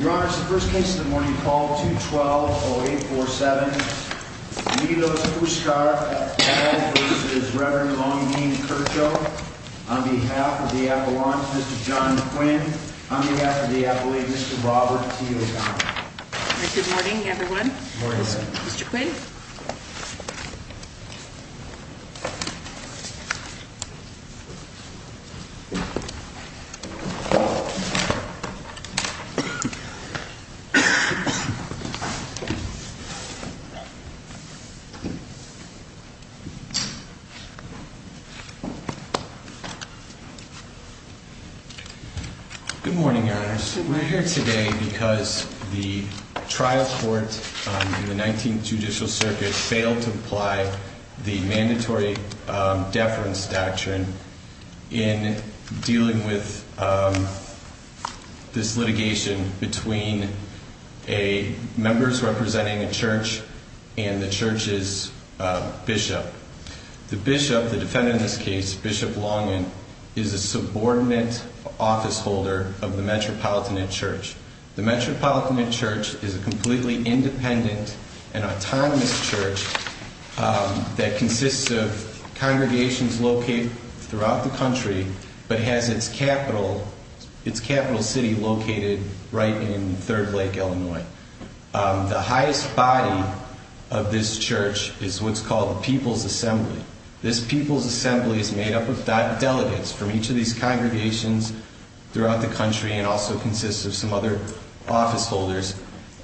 Your Honor, this is the first case of the morning. Call 212-0847. Nitos Puskar v. Reverend Long Dean Krco On behalf of the Appellant, Mr. John Quinn. On behalf of the Appellate, Mr. Robert T. LeGon. Good morning, everyone. Mr. Quinn. Good morning, Your Honor. This litigation between members representing a church and the church's bishop. The bishop, the defendant in this case, Bishop Longin, is a subordinate office holder of the Metropolitan Church. The Metropolitan Church is a completely independent and autonomous church that consists of congregations located throughout the country, but has its capital city located right in Third Lake, Illinois. The highest body of this church is what's called the People's Assembly. This People's Assembly is made up of delegates from each of these congregations throughout the country and also consists of some other office holders.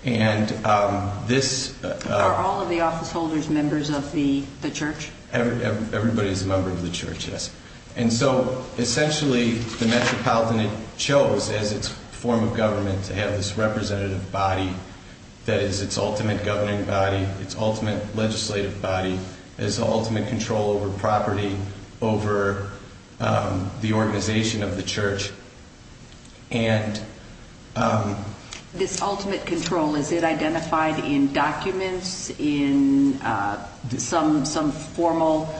Are all of the office holders members of the church? Everybody is a member of the church, yes. And so, essentially, the Metropolitan chose, as its form of government, to have this representative body that is its ultimate governing body, its ultimate legislative body, its ultimate control over property, over the organization of the church. This ultimate control, is it identified in documents, in some formal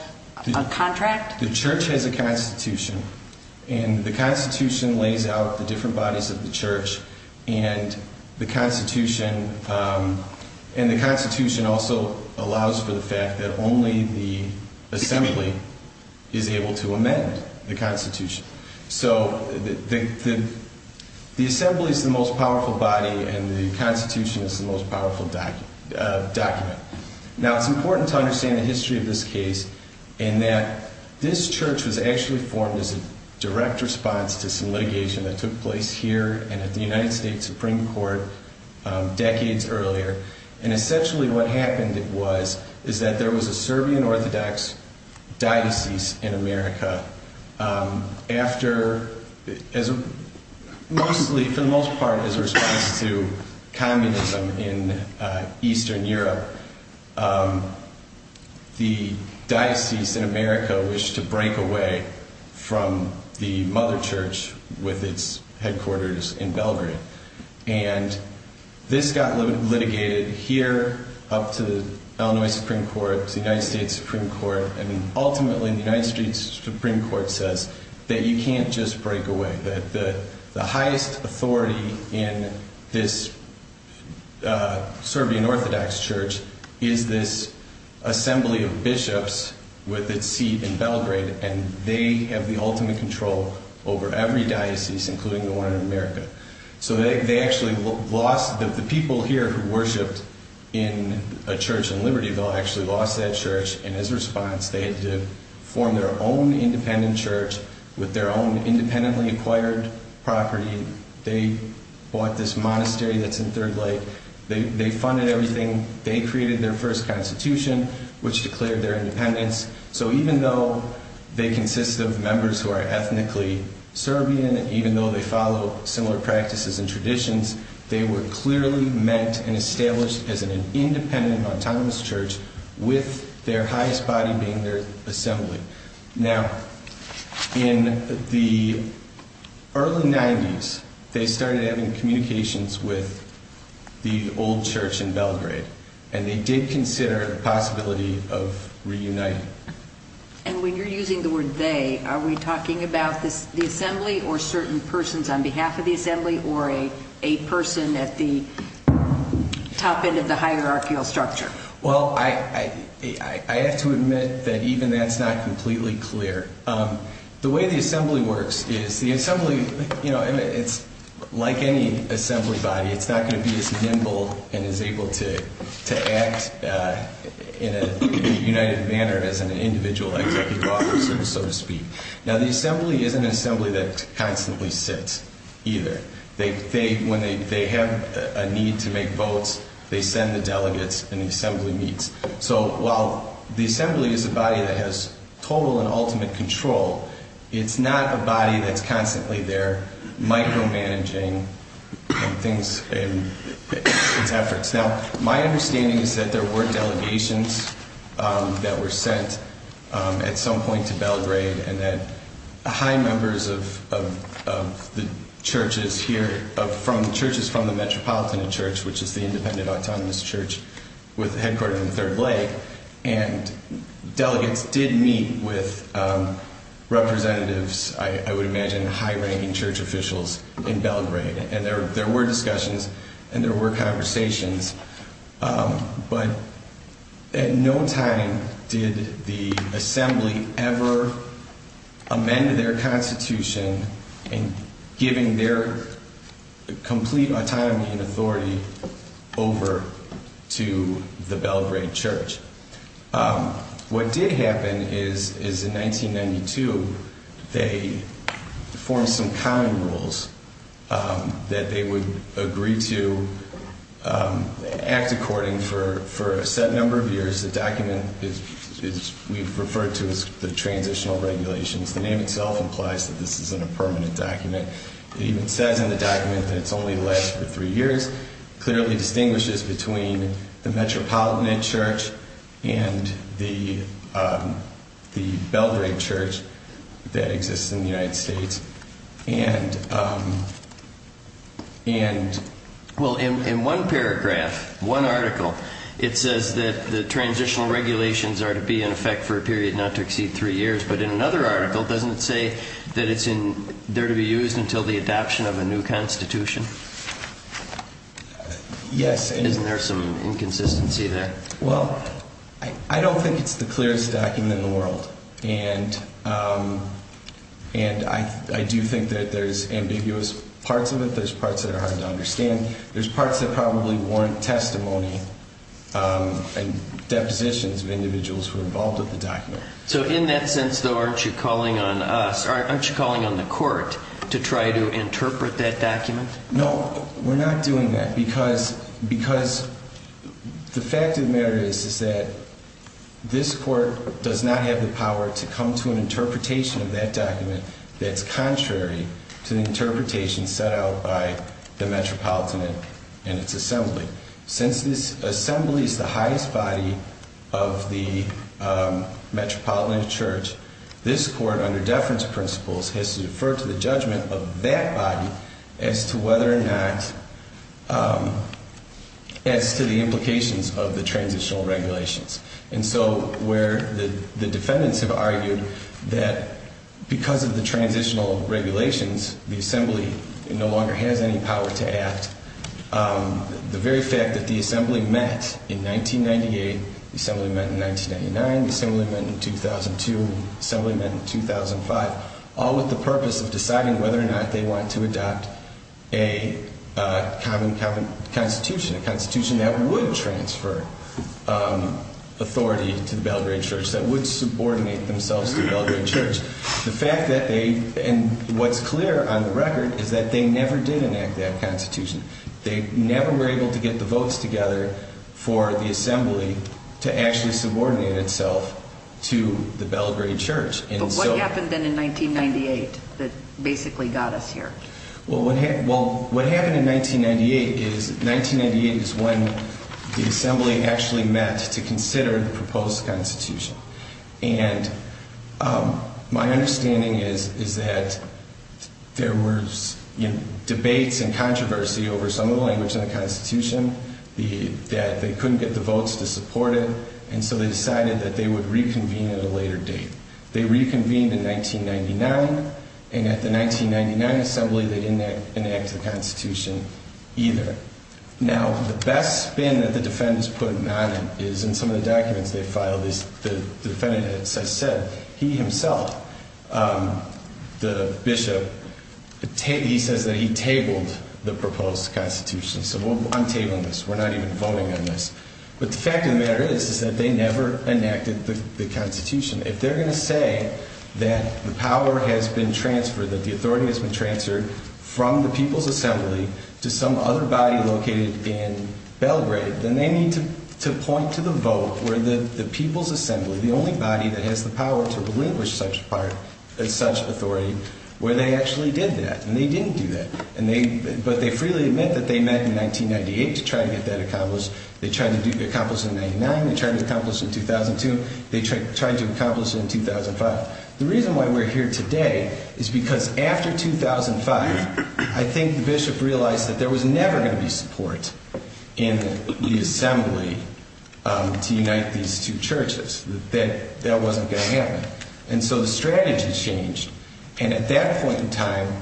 contract? The church has a constitution, and the constitution lays out the different bodies of the church, and the constitution also allows for the fact that only the assembly is able to amend the constitution. So, the assembly is the most powerful body and the constitution is the most powerful document. Now, it's important to understand the history of this case in that this church was actually formed as a direct response to some litigation that took place here and at the United States Supreme Court decades earlier. And, essentially, what happened was that there was a Serbian Orthodox diocese in America after, for the most part, as a response to communism in Eastern Europe, the diocese in America wished to break away from the mother church with its headquarters in Belgrade. And this got litigated here, up to the Illinois Supreme Court, to the United States Supreme Court, and ultimately, the United States Supreme Court says that you can't just break away, that the highest authority in this Serbian Orthodox church is this assembly of bishops with its seat in Belgrade, and they have the ultimate control over every diocese, including the one in America. So, they actually lost, the people here who worshipped in a church in Libertyville actually lost that church, and as a response, they had to form their own independent church with their own independently acquired property. They bought this monastery that's in Third Lake, they funded everything, they created their first constitution, which declared their independence, so even though they consist of members who are ethnically Serbian, even though they follow similar practices and traditions, they were clearly meant and established as an independent, autonomous church with their highest body being their assembly. Now, in the early 90s, they started having communications with the old church in Belgrade, and they did consider the possibility of reuniting. And when you're using the word they, are we talking about the assembly, or certain persons on behalf of the assembly, or a person at the top end of the hierarchical structure? Well, I have to admit that even that's not completely clear. The way the assembly works is the assembly, you know, it's like any assembly body, it's not going to be as nimble and is able to act in a united manner as an individual executive officer, so to speak. Now, the assembly isn't an assembly that constantly sits, either. When they have a need to make votes, they send the delegates and the assembly meets. So while the assembly is a body that has total and ultimate control, it's not a body that's constantly there micromanaging its efforts. Now, my understanding is that there were delegations that were sent at some point to Belgrade, and that high members of the churches here, churches from the Metropolitan Church, which is the independent, autonomous church headquartered in the Third Lake, and delegates did meet with representatives, I would imagine, high-ranking church officials in Belgrade. And there were discussions and there were conversations, but at no time did the assembly ever amend their constitution in giving their complete autonomy and authority over to the Belgrade church. What did happen is in 1992, they formed some common rules that they would agree to act according for a set number of years. The document is, we've referred to as the transitional regulations. The name itself implies that this isn't a permanent document. It even says in the document that it's only going to last for three years. It clearly distinguishes between the Metropolitan Church and the Belgrade Church that exists in the United States. And... In one paragraph, one article, it says that the transitional regulations are to be in effect for a period not to exceed three years, but in another article, doesn't it say that it's there to be used until the adoption of a new constitution? Yes. Isn't there some inconsistency there? Well, I don't think it's the clearest document in the world. And I do think that there's ambiguous parts of it. There's parts that are hard to understand. There's parts that probably warrant testimony and depositions of individuals who are involved with the document. So in that sense, though, aren't you calling on us, aren't you calling on the court to try to interpret that document? No, we're not doing that because the fact of the matter is that this court does not have the power to come to an interpretation of that document that's contrary to the interpretation set out by the Metropolitan and its assembly. Since this assembly is the highest body of the Metropolitan Church, this court, under deference principles, has to defer to the judgment of that body as to whether or not, as to the implications of the transitional regulations. And so where the defendants have argued that because of the transitional regulations, the assembly no longer has any power to act, the very fact that the assembly met in 1998, the assembly met in 1999, the assembly met in 2002, the assembly met in 2005, all with the purpose of deciding whether or not they want to adopt a common constitution, a constitution that would transfer. Authority to the Belgrade Church that would subordinate themselves to the Belgrade Church. The fact that they and what's clear on the record is that they never did enact that constitution. They never were able to get the votes together for the assembly to actually subordinate itself to the Belgrade Church. But what happened then in 1998 that basically got us here? Well, what happened in 1998 is when the assembly actually met to consider the proposed constitution. And my understanding is that there were debates and controversy over some of the language in the constitution, that they couldn't get the votes to support it. And so they decided that they would reconvene at a later date. They reconvened in 1999. And at the 1999 assembly, they didn't enact the constitution either. Now, the best spin that the defendants put on it is in some of the documents they filed is the defendant, as I said, he himself, the bishop, he says that he tabled the proposed constitution. So we'll untable this. We're not even voting on this. But the fact of the matter is, is that they never enacted the constitution. If they're going to say that the power has been transferred, that the authority has been transferred from the people's assembly to some other body located in Belgrade, then they need to point to the vote where the people's assembly, the only body that has the power to relinquish such authority, where they actually did that. And they didn't do that. But they freely admit that they met in 1998 to try to get that accomplished. They tried to accomplish it in 99. They tried to accomplish it in 2002. They tried to accomplish it in 2005. The reason why we're here today is because after 2005, I think the bishop realized that there was never going to be support in the assembly to unite these two churches, that that wasn't going to happen. And so the strategy changed. And at that point in time,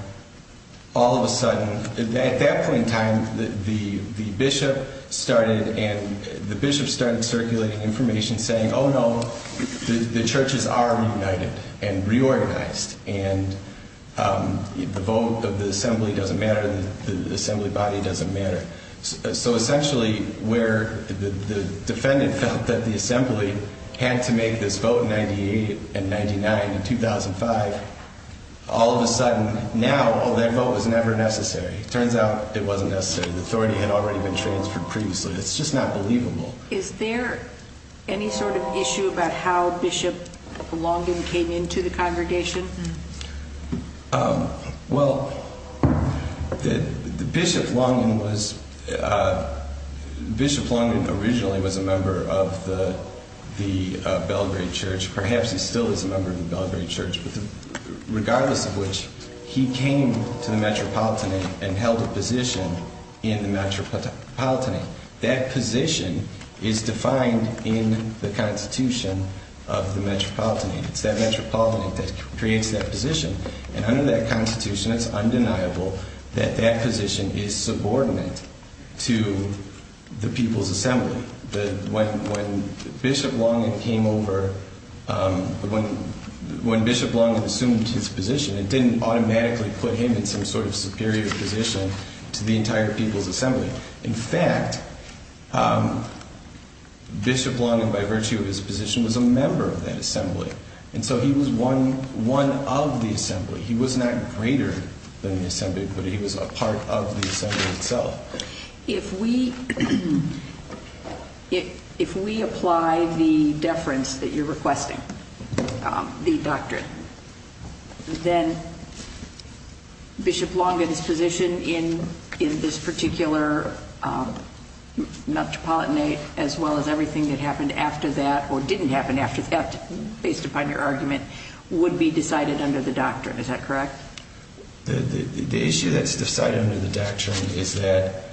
all of a sudden, at that point in time, the bishop started and the bishop started circulating information saying, oh, no, the churches are reunited and reorganized. And the vote of the assembly doesn't matter. The assembly body doesn't matter. So essentially, where the defendant felt that the assembly had to make this vote in 98 and 99 in 2005, all of a sudden, now that vote was never necessary. It turns out it wasn't necessary. The authority had already been transferred previously. It's just not believable. Is there any sort of issue about how Bishop Longin came into the congregation? Well, Bishop Longin was, Bishop Longin originally was a member of the Belgrade Church. Perhaps he still is a member of the Belgrade Church. Regardless of which, he came to the Metropolitan and held a position in the Metropolitan. That position is defined in the constitution of the Metropolitan. It's that Metropolitan that creates that position. And under that constitution, it's undeniable that that position is subordinate to the people's assembly. When Bishop Longin assumed his position, it didn't automatically put him in some sort of superior position to the entire people's assembly. In fact, Bishop Longin, by virtue of his position, was a member of that assembly. And so he was one of the assembly. He was not greater than the assembly, but he was a part of the assembly itself. If we apply the deference that you're requesting, the doctrine, then Bishop Longin's position in this particular Metropolitan, as well as everything that happened after that, or didn't happen after that, based upon your argument, would be decided under the doctrine. Is that correct? The issue that's decided under the doctrine is that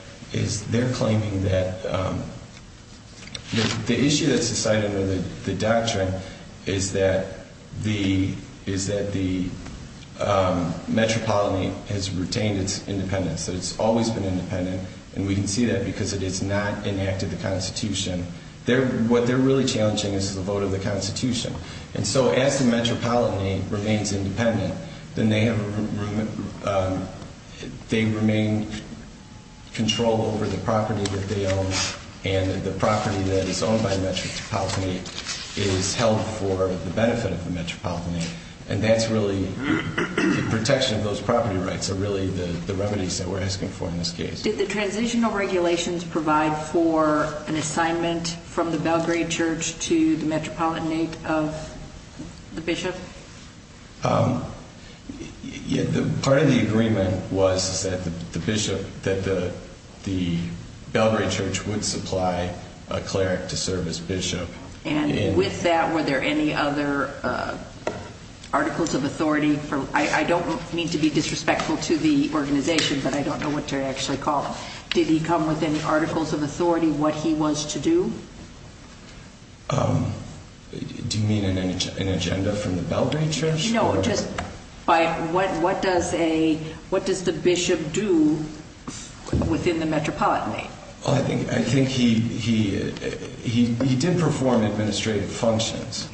the Metropolitan has retained its independence. It's always been independent, and we can see that because it has not enacted the constitution. What they're really challenging is the vote of the constitution. And so as the Metropolitan remains independent, then they remain in control over the property that they own, and the property that is owned by the Metropolitan is held for the benefit of the Metropolitan. And that's really the protection of those property rights are really the remedies that we're asking for in this case. Did the transitional regulations provide for an assignment from the Belgrade Church to the Metropolitanate of the Bishop? Part of the agreement was that the Belgrade Church would supply a cleric to serve as bishop. And with that, were there any other articles of authority? I don't mean to be disrespectful to the organization, but I don't know what they're actually called. Did he come with any articles of authority what he was to do? Do you mean an agenda from the Belgrade Church? No, just what does the bishop do within the Metropolitanate? Well, I think he did perform administrative functions,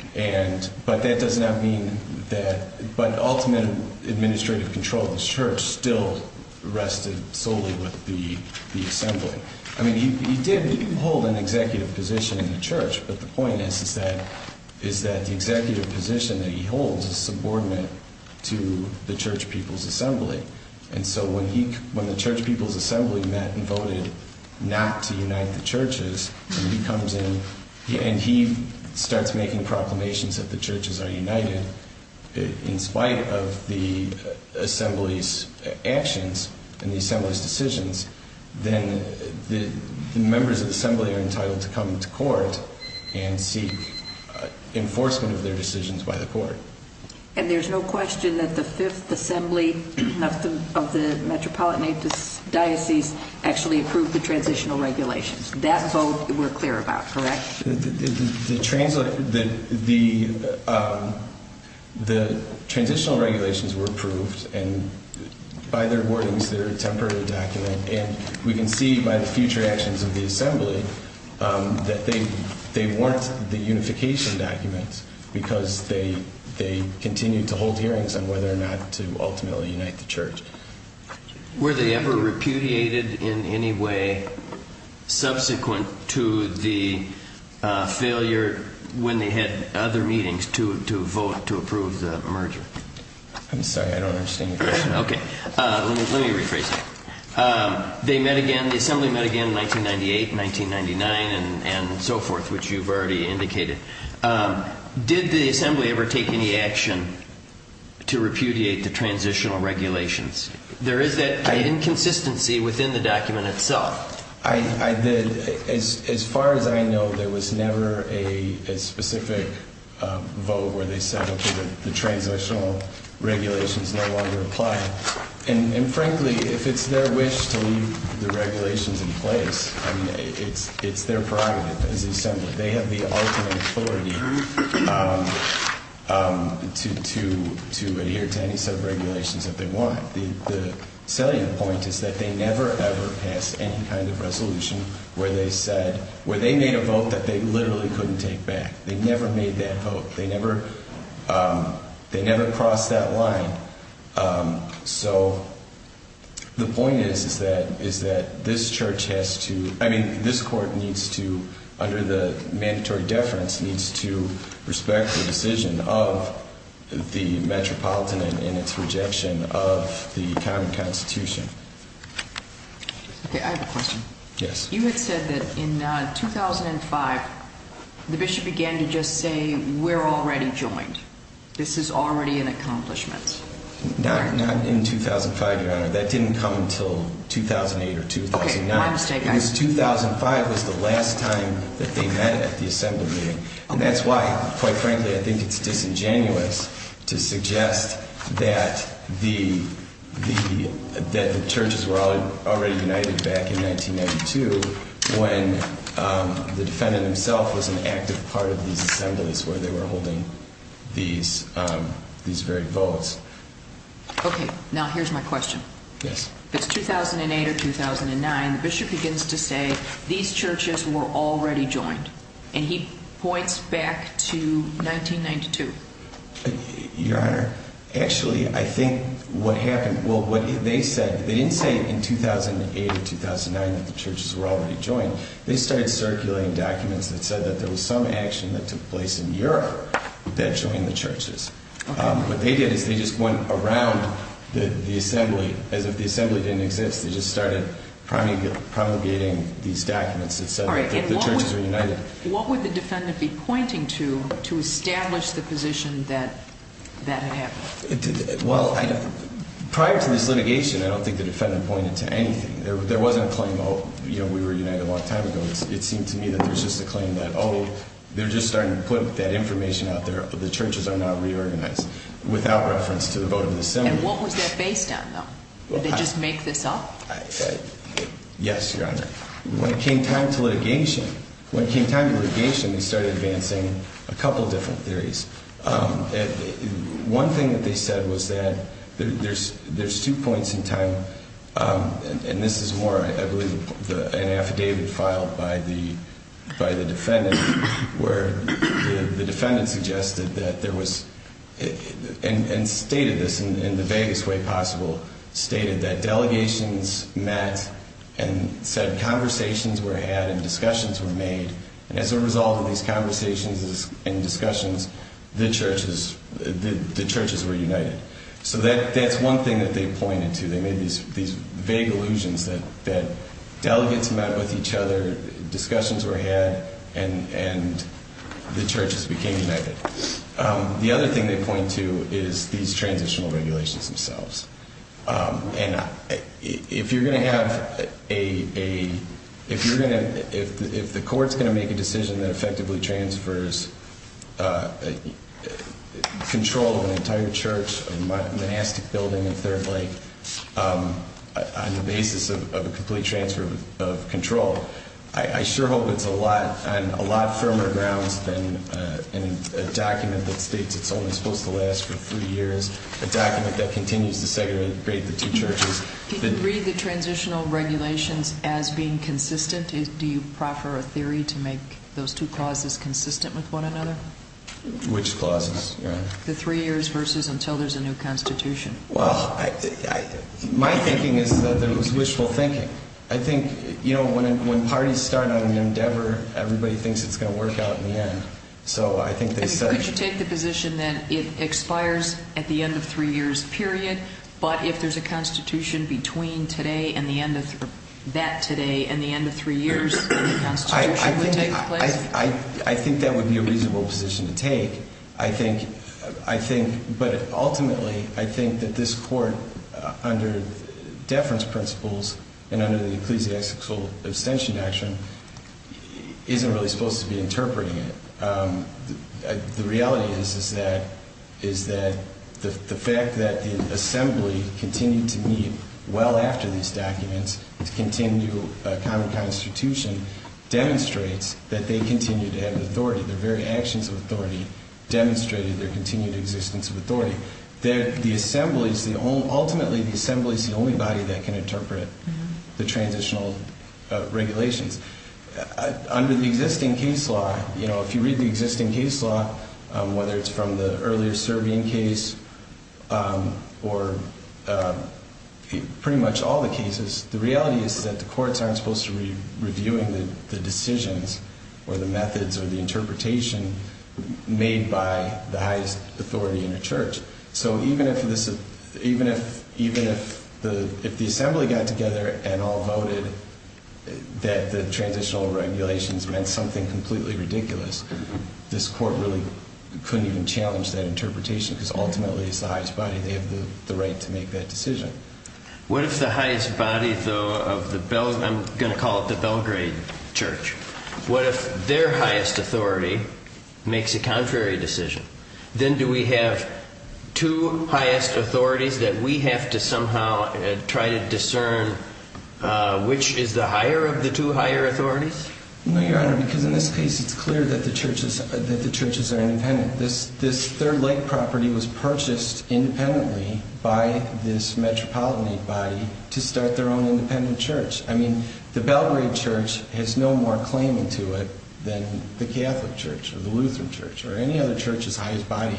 but that does not mean that, but ultimate administrative control of the church still rested solely with the assembly. I mean, he did hold an executive position in the church, but the point is that the executive position that he holds is subordinate to the church people's assembly. And so when the church people's assembly met and voted not to unite the churches, and he starts making proclamations that the churches are united in spite of the assembly's actions and the assembly's decisions, then the members of the assembly are entitled to come to court and seek enforcement of their decisions by the court. And there's no question that the fifth assembly of the Metropolitanate diocese actually approved the transitional regulations. That vote we're clear about, correct? The transitional regulations were approved and by their wordings they're a temporary document, and we can see by the future actions of the assembly that they weren't the unification documents because they continued to hold hearings on whether or not to ultimately unite the church. Were they ever repudiated in any way subsequent to the failure when they had other meetings to vote to approve the merger? I'm sorry, I don't understand your question. Let me rephrase it. The assembly met again in 1998, 1999, and so forth, which you've already indicated. Did the assembly ever take any action to repudiate the transitional regulations? There is that inconsistency within the document itself. As far as I know, there was never a specific vote where they said, okay, the transitional regulations no longer apply. And frankly, if it's their wish to leave the regulations in place, I mean, it's their prerogative as the assembly. They have the ultimate authority to adhere to any set of regulations that they want. The selling point is that they never, ever passed any kind of resolution where they made a vote that they literally couldn't take back. They never made that vote. They never crossed that line. So the point is, is that this church has to, I mean, this court needs to, under the mandatory deference, needs to respect the decision of the metropolitan and its rejection of the common constitution. Okay, I have a question. Yes. You had said that in 2005, the bishop began to just say, we're already joined. This is already an accomplishment. Not in 2005, Your Honor. That didn't come until 2008 or 2009. Okay, my mistake. Because 2005 was the last time that they met at the assembly meeting. And that's why, quite frankly, I think it's disingenuous to suggest that the churches were already united back in 1992 when the defendant himself was an active part of these assemblies where they were holding these very votes. Okay, now here's my question. Yes. If it's 2008 or 2009, the bishop begins to say, these churches were already joined. And he points back to 1992. Your Honor, actually, I think what happened, well, what they said, they didn't say in 2008 or 2009 that the churches were already joined. They started circulating documents that said that there was some action that took place in Europe that joined the churches. Okay. What they did is they just went around the assembly as if the assembly didn't exist. They just started promulgating these documents that said that the churches were united. All right, and what would the defendant be pointing to to establish the position that that had happened? Well, prior to this litigation, I don't think the defendant pointed to anything. There wasn't a claim, oh, you know, we were united a long time ago. It seemed to me that there's just a claim that, oh, they're just starting to put that information out there. The churches are not reorganized without reference to the vote of the assembly. And what was that based on, though? Did they just make this up? Yes, Your Honor. When it came time to litigation, when it came time to litigation, they started advancing a couple different theories. One thing that they said was that there's two points in time, and this is more, I believe, an affidavit filed by the defendant, where the defendant suggested that there was, and stated this in the vaguest way possible, stated that delegations met and said conversations were had and discussions were made. And as a result of these conversations and discussions, the churches were united. So that's one thing that they pointed to. They made these vague illusions that delegates met with each other, discussions were had, and the churches became united. The other thing they point to is these transitional regulations themselves. And if you're going to have a, if you're going to, if the court's going to make a decision that effectively transfers control of an entire church, a monastic building in Third Lake, on the basis of a complete transfer of control, I sure hope it's on a lot firmer grounds than a document that states it's only supposed to last for three years, a document that continues to segregate the two churches. Do you read the transitional regulations as being consistent? Do you proffer a theory to make those two clauses consistent with one another? Which clauses, Your Honor? The three years versus until there's a new constitution. Well, my thinking is that there was wishful thinking. I think, you know, when parties start on an endeavor, everybody thinks it's going to work out in the end. Could you take the position that it expires at the end of three years, period, but if there's a constitution between today and the end of, that today, and the end of three years, the constitution would take place? I think that would be a reasonable position to take. I think, I think, but ultimately, I think that this court, under deference principles, and under the ecclesiastical abstention action, isn't really supposed to be interpreting it. The reality is that the fact that the assembly continued to meet well after these documents, to continue a common constitution, demonstrates that they continue to have authority. Their very actions of authority demonstrated their continued existence of authority. Ultimately, the assembly is the only body that can interpret the transitional regulations. Under the existing case law, you know, if you read the existing case law, whether it's from the earlier Serbian case or pretty much all the cases, the reality is that the courts aren't supposed to be reviewing the decisions or the methods or the interpretation made by the highest authority in a church. So even if this, even if, even if the, if the assembly got together and all voted that the transitional regulations meant something completely ridiculous, this court really couldn't even challenge that interpretation, because ultimately it's the highest body. They have the right to make that decision. What if the highest body, though, of the, I'm going to call it the Belgrade church, what if their highest authority makes a contrary decision? Then do we have two highest authorities that we have to somehow try to discern which is the higher of the two higher authorities? No, Your Honor, because in this case it's clear that the churches, that the churches are independent. This, this Third Lake property was purchased independently by this metropolitan body to start their own independent church. I mean, the Belgrade church has no more claiming to it than the Catholic church or the Lutheran church or any other church's highest body.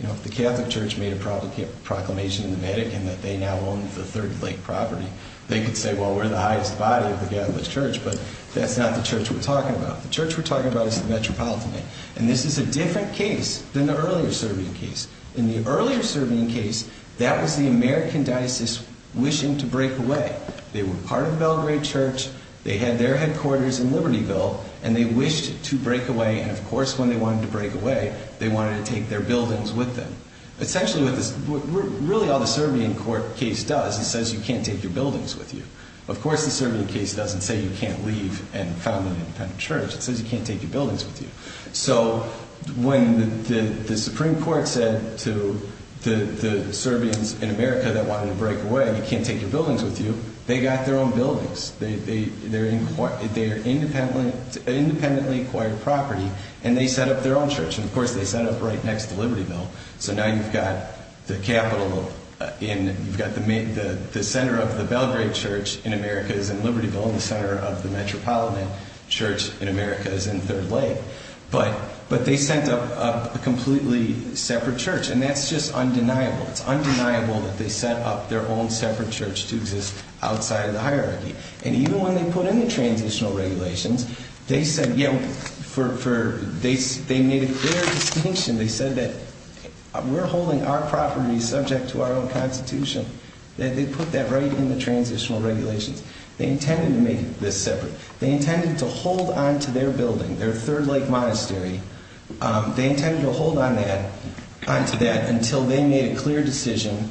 You know, if the Catholic church made a proclamation in the Vatican that they now own the Third Lake property, they could say, well, we're the highest body of the Catholic church, but that's not the church we're talking about. The church we're talking about is the metropolitan body. And this is a different case than the earlier Serbian case. In the earlier Serbian case, that was the American diocese wishing to break away. They were part of the Belgrade church. They had their headquarters in Libertyville, and they wished to break away. And, of course, when they wanted to break away, they wanted to take their buildings with them. Essentially what this, really all the Serbian court case does, it says you can't take your buildings with you. Of course, the Serbian case doesn't say you can't leave and found an independent church. It says you can't take your buildings with you. So when the Supreme Court said to the, the Serbians in America that wanted to break away, you can't take your buildings with you, they got their own buildings. They're independently acquired property, and they set up their own church. And, of course, they set it up right next to Libertyville. So now you've got the capital in, you've got the center of the Belgrade church in America is in Libertyville and the center of the metropolitan church in America is in Third Lake. But they sent up a completely separate church, and that's just undeniable. It's undeniable that they set up their own separate church to exist outside of the hierarchy. And even when they put in the transitional regulations, they said, you know, for, for, they made a clear distinction. They said that we're holding our property subject to our own constitution. They put that right in the transitional regulations. They intended to make this separate. They intended to hold on to their building, their Third Lake Monastery. They intended to hold on to that until they made a clear decision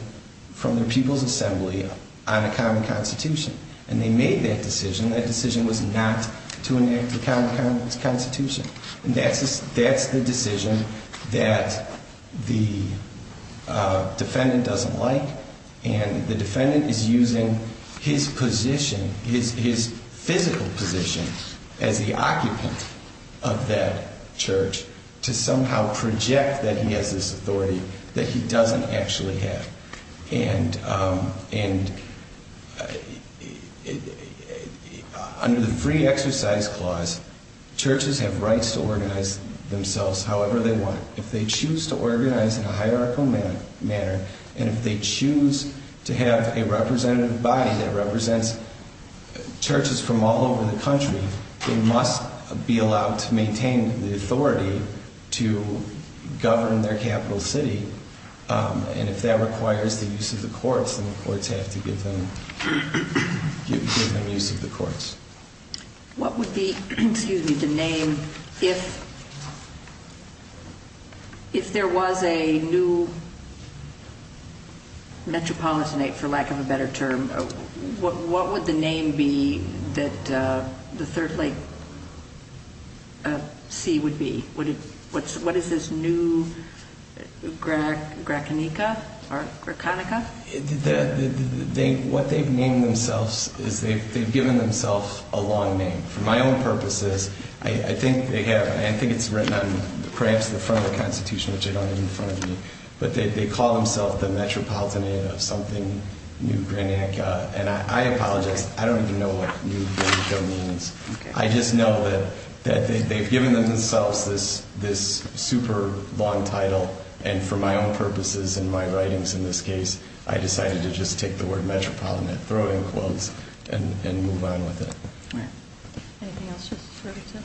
from the People's Assembly on a common constitution. And they made that decision. That decision was not to enact a common constitution. And that's the decision that the defendant doesn't like. And the defendant is using his position, his, his physical position as the occupant of that church to somehow project that he has this authority that he doesn't actually have. And, and under the free exercise clause, churches have rights to organize themselves however they want. If they choose to organize in a hierarchical manner, and if they choose to have a representative body that represents churches from all over the country, they must be allowed to maintain the authority to govern their capital city. And if that requires the use of the courts, then the courts have to give them, give them use of the courts. What would be, excuse me, the name if, if there was a new metropolitanate, for lack of a better term, what, what would the name be that the Third Lake C would be? Would it, what's, what is this new Grack, Grackinica or Grackinica? They, what they've named themselves is they've, they've given themselves a long name. For my own purposes, I, I think they have, I think it's written on perhaps the front of the constitution, which I don't have in front of me. But they, they call themselves the metropolitanate of something new Grackinica. And I, I apologize, I don't even know what new Grackinica means. I just know that, that they, they've given themselves this, this super long title. And for my own purposes and my writings in this case, I decided to just take the word metropolitanate, throw in quotes, and, and move on with it. Right. Anything else, Justice Richardson?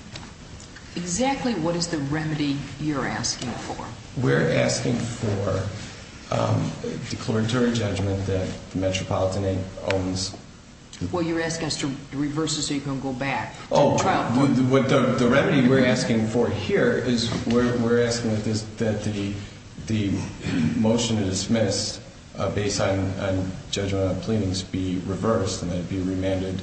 Exactly what is the remedy you're asking for? We're asking for declaratory judgment that the metropolitanate owns. Well, you're asking us to reverse this so you can go back. Oh, what the remedy we're asking for here is we're, we're asking that this, that the, the motion to dismiss based on, on judgment on pleadings be reversed and that it be remanded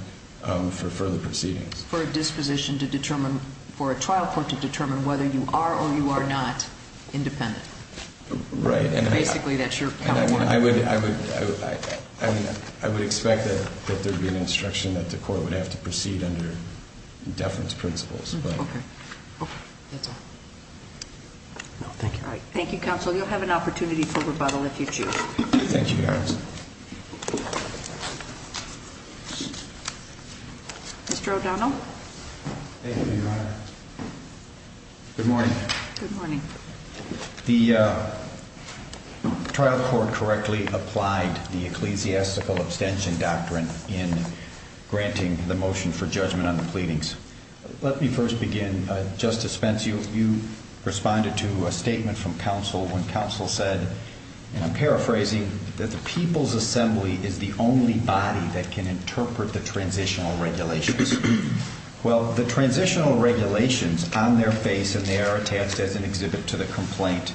for further proceedings. For a disposition to determine, for a trial court to determine whether you are or you are not independent. Right. Basically, that's your point. I would, I would, I would expect that there would be an instruction that the court would have to proceed under deference principles, but. Okay. Okay. That's all. No, thank you. All right. Thank you, counsel. You'll have an opportunity for rebuttal if you choose. Thank you, Your Honor. Mr. O'Donnell. Thank you, Your Honor. Good morning. Good morning. The trial court correctly applied the ecclesiastical abstention doctrine in granting the motion for judgment on the pleadings. Let me first begin. Justice Spence, you, you responded to a statement from counsel when counsel said, and I'm paraphrasing, that the people's assembly is the only body that can interpret the transitional regulations. Well, the transitional regulations on their face, and they are attached as an exhibit to the complaint,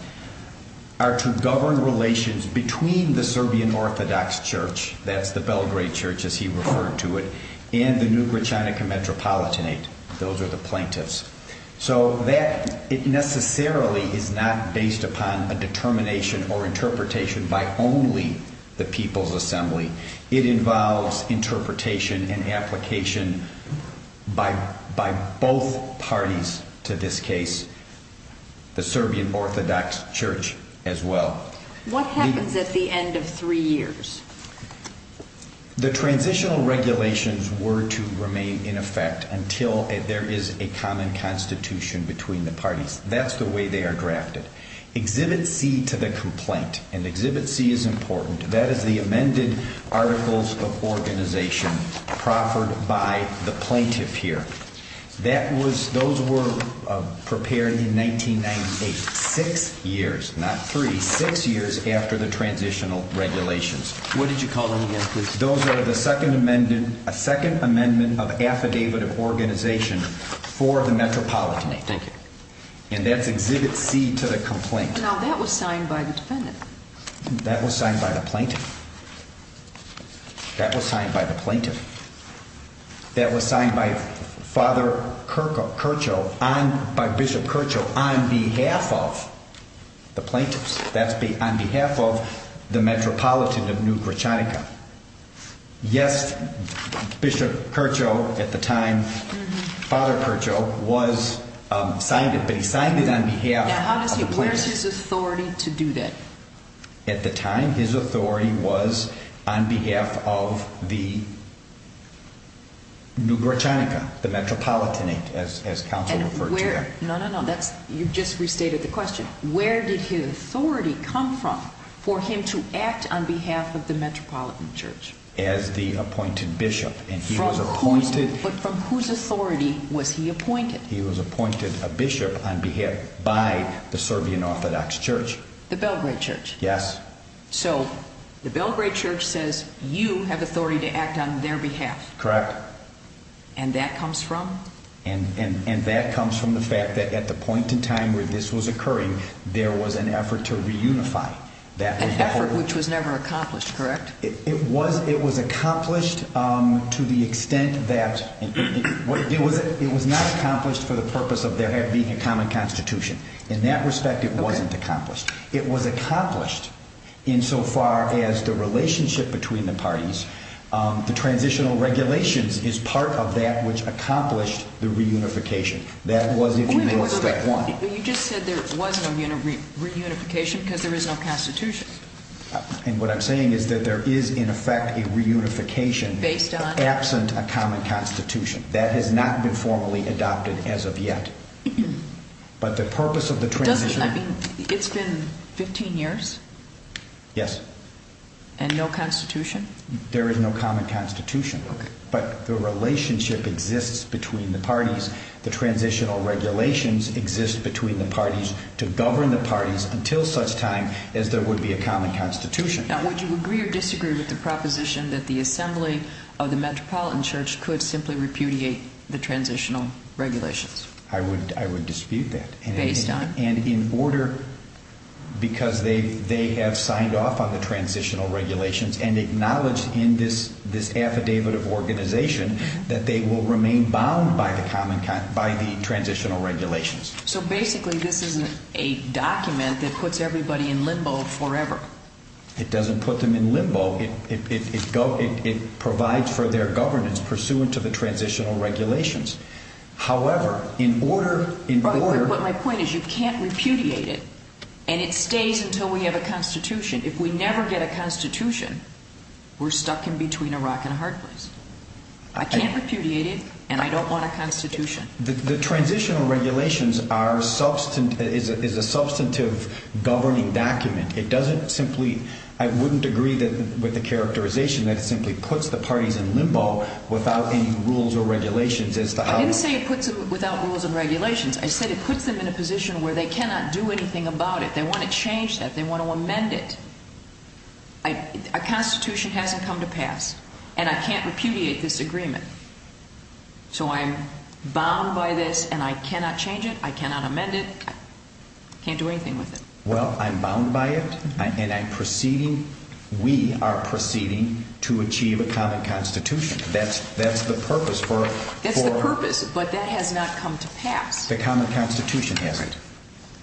are to govern relations between the Serbian Orthodox Church, that's the Belgrade Church as he referred to it, and the New Gračanica Metropolitanate. Those are the plaintiffs. So that, it necessarily is not based upon a determination or interpretation by only the people's assembly. It involves interpretation and application by both parties to this case, the Serbian Orthodox Church as well. What happens at the end of three years? The transitional regulations were to remain in effect until there is a common constitution between the parties. Exhibit C to the complaint, and exhibit C is important, that is the amended articles of organization proffered by the plaintiff here. That was, those were prepared in 1998, six years, not three, six years after the transitional regulations. What did you call them again, please? Those are the second amendment, a second amendment of affidavit of organization for the Metropolitanate. Thank you. And that's exhibit C to the complaint. Now that was signed by the defendant. That was signed by the plaintiff. That was signed by the plaintiff. That was signed by Father Kercho, by Bishop Kercho on behalf of the plaintiffs. That's on behalf of the Metropolitan of New Gračanica. Yes, Bishop Kercho, at the time, Father Kercho was, signed it, but he signed it on behalf of the plaintiff. Now how does he, where is his authority to do that? At the time, his authority was on behalf of the New Gračanica, the Metropolitanate, as counsel referred to that. No, no, no, that's, you've just restated the question. Where did his authority come from for him to act on behalf of the Metropolitan Church? As the appointed bishop, and he was appointed. But from whose authority was he appointed? He was appointed a bishop on behalf, by the Serbian Orthodox Church. The Belgrade Church? Yes. So, the Belgrade Church says you have authority to act on their behalf. Correct. And that comes from? And that comes from the fact that at the point in time where this was occurring, there was an effort to reunify that. An effort which was never accomplished, correct? It was accomplished to the extent that, it was not accomplished for the purpose of there being a common constitution. In that respect, it wasn't accomplished. It was accomplished in so far as the relationship between the parties. The transitional regulations is part of that which accomplished the reunification. That was, if you will, step one. Wait a minute, wait a minute. You just said there was no reunification because there is no constitution. And what I'm saying is that there is, in effect, a reunification. Based on? Absent a common constitution. That has not been formally adopted as of yet. But the purpose of the transition. It's been 15 years? Yes. And no constitution? There is no common constitution. But the relationship exists between the parties. The transitional regulations exist between the parties to govern the parties until such time as there would be a common constitution. Now, would you agree or disagree with the proposition that the assembly of the Metropolitan Church could simply repudiate the transitional regulations? I would dispute that. Based on? And in order, because they have signed off on the transitional regulations and acknowledged in this affidavit of organization that they will remain bound by the transitional regulations. So, basically, this is a document that puts everybody in limbo forever. It doesn't put them in limbo. It provides for their governance pursuant to the transitional regulations. However, in order, in order. But my point is you can't repudiate it and it stays until we have a constitution. If we never get a constitution, we're stuck in between a rock and a hard place. I can't repudiate it and I don't want a constitution. The transitional regulations are substantive, is a substantive governing document. It doesn't simply, I wouldn't agree with the characterization that it simply puts the parties in limbo without any rules or regulations as to how. I didn't say it puts it without rules and regulations. I said it puts them in a position where they cannot do anything about it. They want to change that. They want to amend it. A constitution hasn't come to pass and I can't repudiate this agreement. So, I'm bound by this and I cannot change it. I cannot amend it. Can't do anything with it. Well, I'm bound by it and I'm proceeding, we are proceeding to achieve a common constitution. That's the purpose for. That's the purpose, but that has not come to pass. The common constitution hasn't.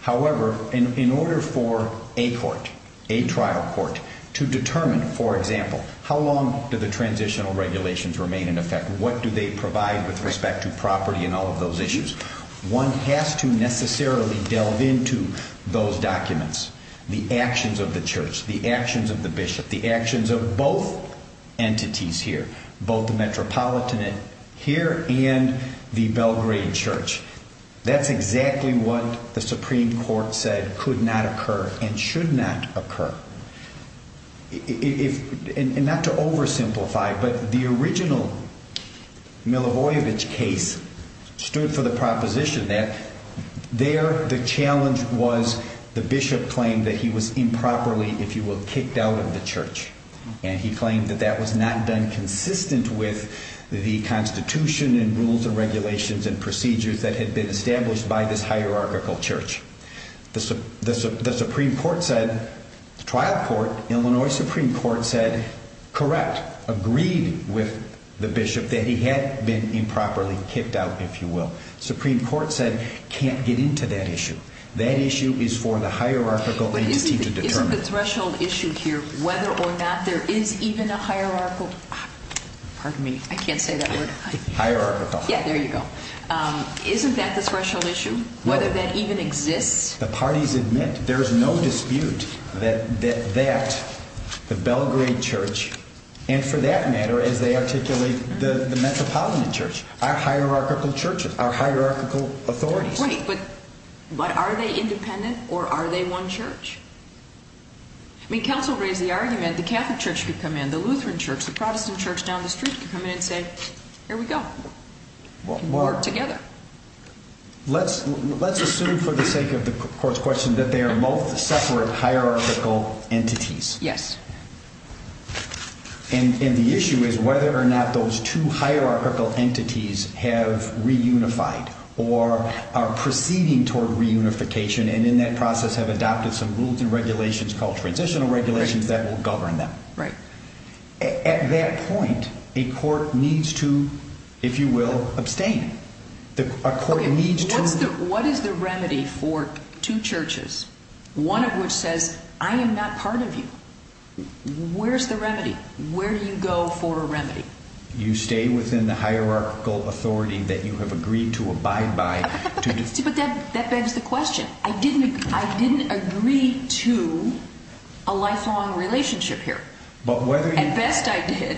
However, in order for a court, a trial court, to determine, for example, how long do the transitional regulations remain in effect? What do they provide with respect to property and all of those issues? One has to necessarily delve into those documents. The actions of the church, the actions of the bishop, the actions of both entities here. Both the Metropolitanate here and the Belgrade Church. That's exactly what the Supreme Court said could not occur and should not occur. Not to oversimplify, but the original Milivojevic case stood for the proposition that there the challenge was the bishop claimed that he was improperly, if you will, kicked out of the church. And he claimed that that was not done consistent with the constitution and rules and regulations and procedures that had been established by this hierarchical church. The Supreme Court said, the trial court, Illinois Supreme Court said, correct, agreed with the bishop that he had been improperly kicked out, if you will. Supreme Court said, can't get into that issue. That issue is for the hierarchical entity to determine. Isn't the threshold issue here whether or not there is even a hierarchical, pardon me, I can't say that word. Hierarchical. Yeah, there you go. Isn't that the threshold issue? No. Whether that even exists? The parties admit there's no dispute that the Belgrade Church, and for that matter, as they articulate the Metropolitan Church, are hierarchical churches, are hierarchical authorities. Right, but are they independent or are they one church? I mean, counsel raised the argument the Catholic Church could come in, the Lutheran Church, the Protestant Church down the street could come in and say, here we go. We're together. Let's assume for the sake of the court's question that they are both separate hierarchical entities. Yes. And the issue is whether or not those two hierarchical entities have reunified or are proceeding toward reunification and in that process have adopted some rules and regulations called transitional regulations that will govern them. Right. At that point, a court needs to, if you will, abstain. What is the remedy for two churches? One of which says, I am not part of you. Where's the remedy? Where do you go for a remedy? You stay within the hierarchical authority that you have agreed to abide by. But that begs the question. I didn't agree to a lifelong relationship here. At best, I did.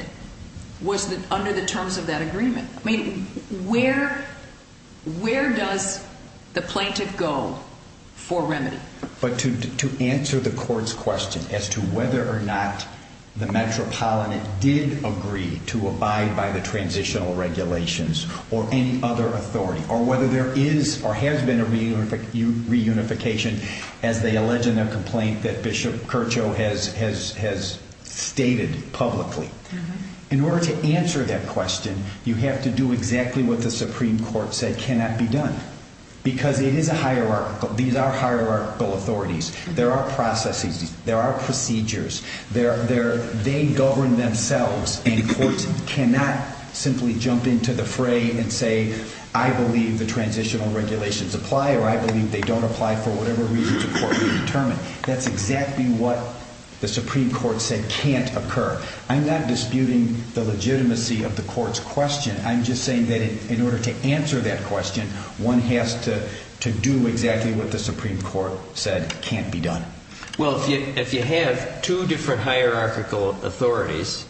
Under the terms of that agreement. I mean, where does the plaintiff go for remedy? But to answer the court's question as to whether or not the Metropolitan did agree to abide by the transitional regulations or any other authority or whether there is or has been a reunification as they allege in their complaint that Bishop Kirchhoff has stated publicly. In order to answer that question, you have to do exactly what the Supreme Court said cannot be done. Because it is a hierarchical. These are hierarchical authorities. There are processes. There are procedures. They govern themselves. And courts cannot simply jump into the fray and say, I believe the transitional regulations apply or I believe they don't apply for whatever reason the court may determine. That's exactly what the Supreme Court said can't occur. I'm not disputing the legitimacy of the court's question. I'm just saying that in order to answer that question, one has to do exactly what the Supreme Court said can't be done. Well, if you have two different hierarchical authorities,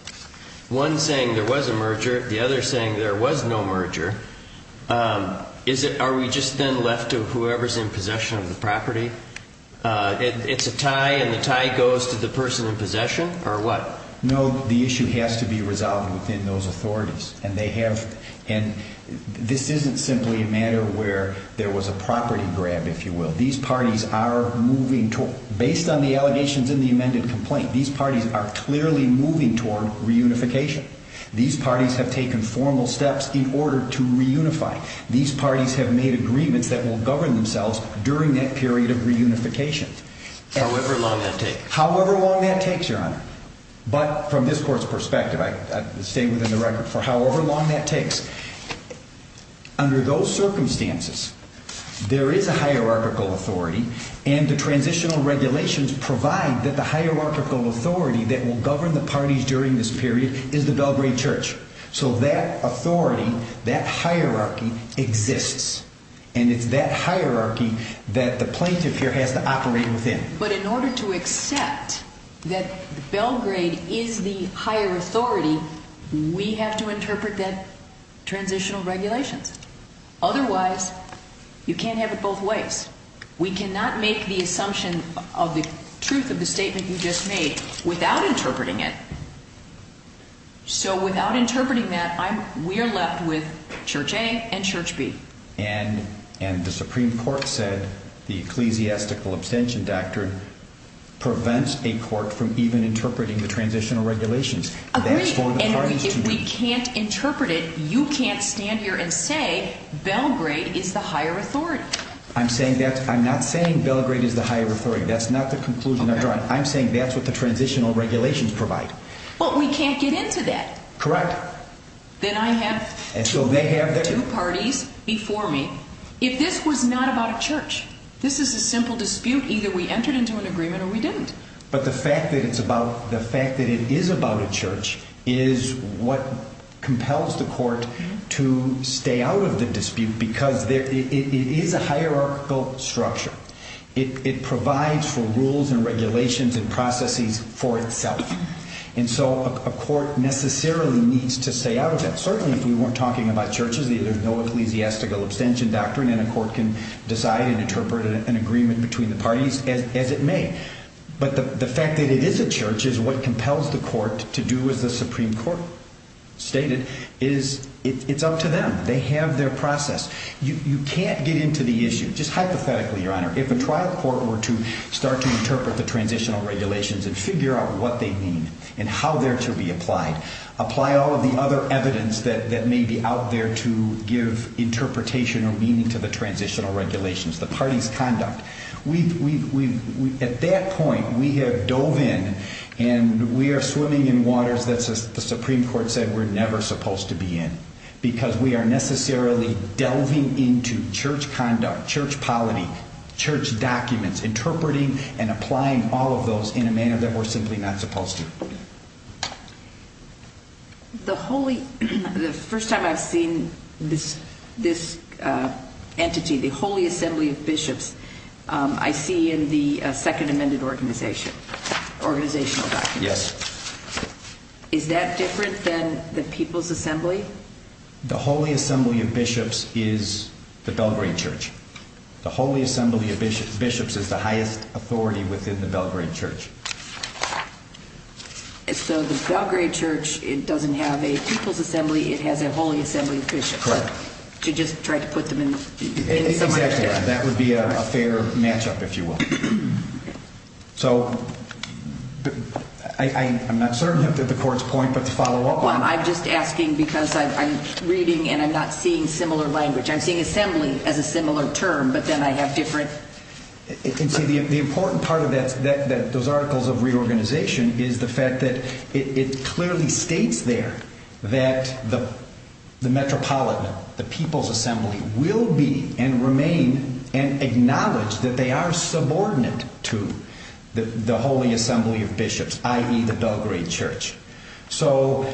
one saying there was a merger, the other saying there was no merger, are we just then left to whoever's in possession of the property? It's a tie and the tie goes to the person in possession or what? No, the issue has to be resolved within those authorities. And this isn't simply a matter where there was a property grab, if you will. Based on the allegations in the amended complaint, these parties are clearly moving toward reunification. These parties have taken formal steps in order to reunify. These parties have made agreements that will govern themselves during that period of reunification. However long that takes. However long that takes, Your Honor. But from this court's perspective, I stay within the record for however long that takes. Under those circumstances, there is a hierarchical authority and the transitional regulations provide that the hierarchical authority that will govern the parties during this period is the Belgrade Church. So that authority, that hierarchy exists. And it's that hierarchy that the plaintiff here has to operate within. But in order to accept that Belgrade is the higher authority, we have to interpret that transitional regulations. Otherwise, you can't have it both ways. We cannot make the assumption of the truth of the statement you just made without interpreting it. So without interpreting that, we are left with Church A and Church B. And the Supreme Court said the ecclesiastical abstention doctrine prevents a court from even interpreting the transitional regulations. Agreed. And if we can't interpret it, you can't stand here and say Belgrade is the higher authority. I'm not saying Belgrade is the higher authority. That's not the conclusion I'm drawing. I'm saying that's what the transitional regulations provide. Well, we can't get into that. Correct. Then I have two parties before me. If this was not about a church, this is a simple dispute. Either we entered into an agreement or we didn't. But the fact that it is about a church is what compels the court to stay out of the dispute because it is a hierarchical structure. It provides for rules and regulations and processes for itself. And so a court necessarily needs to stay out of that. Certainly if we weren't talking about churches, there's no ecclesiastical abstention doctrine and a court can decide and interpret an agreement between the parties as it may. But the fact that it is a church is what compels the court to do as the Supreme Court stated. It's up to them. They have their process. You can't get into the issue. Just hypothetically, Your Honor, if a trial court were to start to interpret the transitional regulations and figure out what they mean and how they're to be applied, apply all of the other evidence that may be out there to give interpretation or meaning to the transitional regulations, the parties' conduct, at that point we have dove in and we are swimming in waters that the Supreme Court said we're never supposed to be in because we are necessarily delving into church conduct, church polity, church documents, interpreting and applying all of those in a manner that we're simply not supposed to. The first time I've seen this entity, the Holy Assembly of Bishops, I see in the Second Amendment organizational documents. Yes. Is that different than the People's Assembly? The Holy Assembly of Bishops is the Belgrade Church. The Holy Assembly of Bishops is the highest authority within the Belgrade Church. So the Belgrade Church doesn't have a People's Assembly. It has a Holy Assembly of Bishops. Correct. To just try to put them in some other church. Exactly. That would be a fair matchup, if you will. So I'm not certain of the Court's point, but to follow up on it. Well, I'm just asking because I'm reading and I'm not seeing similar language. I'm seeing assembly as a similar term, but then I have different... See, the important part of those articles of reorganization is the fact that it clearly states there that the Metropolitan, the People's Assembly, will be and remain and acknowledge that they are subordinate to the Holy Assembly of Bishops, i.e. the Belgrade Church. So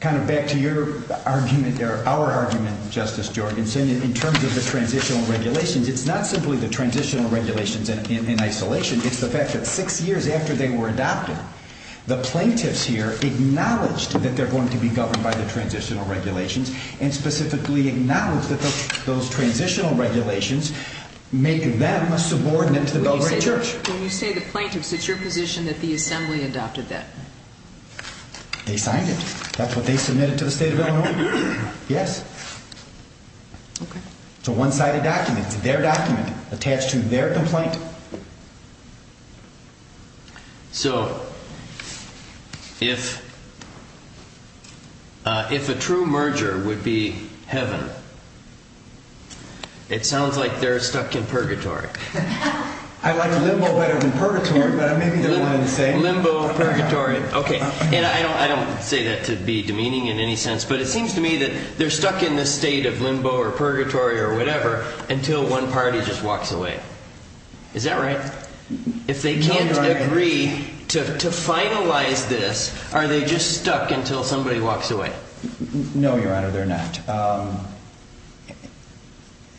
kind of back to your argument or our argument, Justice Jorgensen, in terms of the transitional regulations. It's not simply the transitional regulations in isolation. It's the fact that six years after they were adopted, the plaintiffs here acknowledged that they're going to be governed by the transitional regulations and specifically acknowledged that those transitional regulations make them a subordinate to the Belgrade Church. When you say the plaintiffs, it's your position that the assembly adopted that? They signed it. That's what they submitted to the State of Illinois. Yes. Okay. It's a one-sided document. It's their document attached to their complaint. So if a true merger would be heaven, it sounds like they're stuck in purgatory. I like limbo better than purgatory, but maybe they're the same. Limbo, purgatory. Okay. And I don't say that to be demeaning in any sense, but it seems to me that they're stuck in this state of limbo or purgatory or whatever until one party just walks away. Is that right? No, Your Honor. If they can't agree to finalize this, are they just stuck until somebody walks away? No, Your Honor, they're not.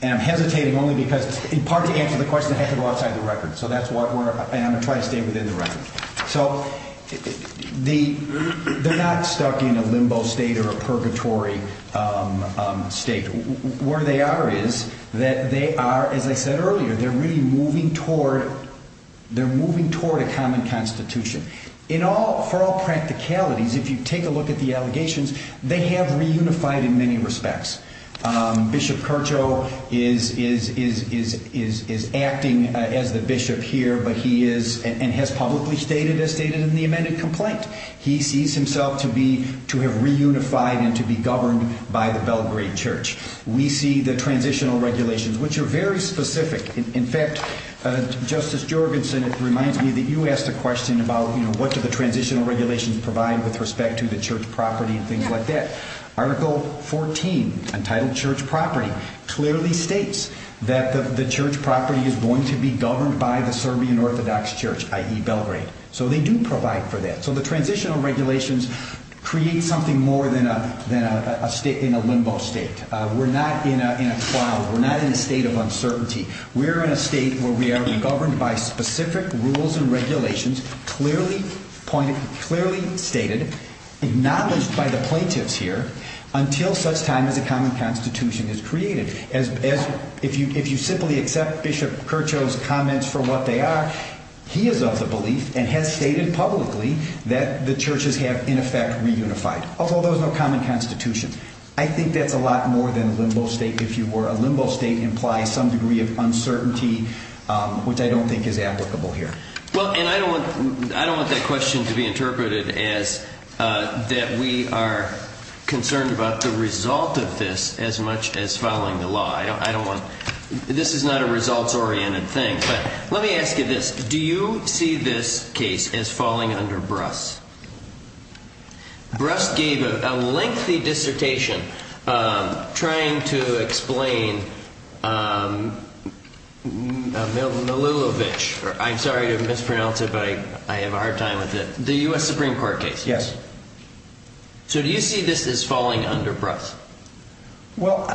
And I'm hesitating only because in part to answer the question, I have to go outside the record, and I'm going to try to stay within the record. So they're not stuck in a limbo state or a purgatory state. Where they are is that they are, as I said earlier, they're really moving toward a common constitution. For all practicalities, if you take a look at the allegations, they have reunified in many respects. Bishop Kercho is acting as the bishop here, but he is and has publicly stated, as stated in the amended complaint, he sees himself to have reunified and to be governed by the Belgrade Church. We see the transitional regulations, which are very specific. In fact, Justice Jorgensen, it reminds me that you asked a question about what do the transitional regulations provide with respect to the church property and things like that. Article 14, entitled Church Property, clearly states that the church property is going to be governed by the Serbian Orthodox Church, i.e. Belgrade. So they do provide for that. So the transitional regulations create something more than a limbo state. We're not in a state of uncertainty. We're in a state where we are governed by specific rules and regulations clearly stated, acknowledged by the plaintiffs here, until such time as a common constitution is created. If you simply accept Bishop Kercho's comments for what they are, he is of the belief and has stated publicly that the churches have, in effect, reunified, although there's no common constitution. I think that's a lot more than limbo state, if you were. A limbo state implies some degree of uncertainty, which I don't think is applicable here. Well, and I don't want that question to be interpreted as that we are concerned about the result of this as much as following the law. This is not a results-oriented thing. But let me ask you this. Do you see this case as falling under Bruss? Bruss gave a lengthy dissertation trying to explain Milulovic. I'm sorry to mispronounce it, but I have a hard time with it. The U.S. Supreme Court case. Yes. So do you see this as falling under Bruss? Well,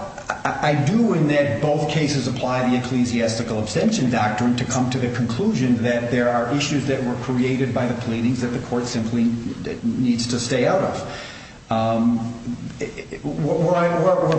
I do in that both cases apply the ecclesiastical abstention doctrine to come to the conclusion that there are issues that were created by the pleadings that the court simply needs to stay out of. Where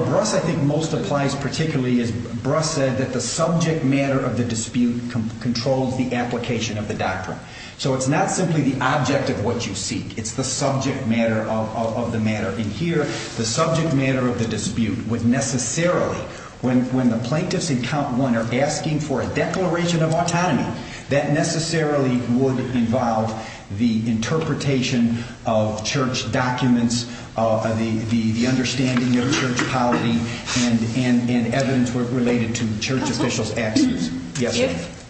Bruss, I think, most applies particularly is Bruss said that the subject matter of the dispute controls the application of the doctrine. So it's not simply the object of what you seek. It's the subject matter of the matter. And here the subject matter of the dispute would necessarily, when the plaintiffs in count one are asking for a declaration of autonomy, that necessarily would involve the interpretation of church documents, the understanding of church polity, and evidence related to church officials' actions. If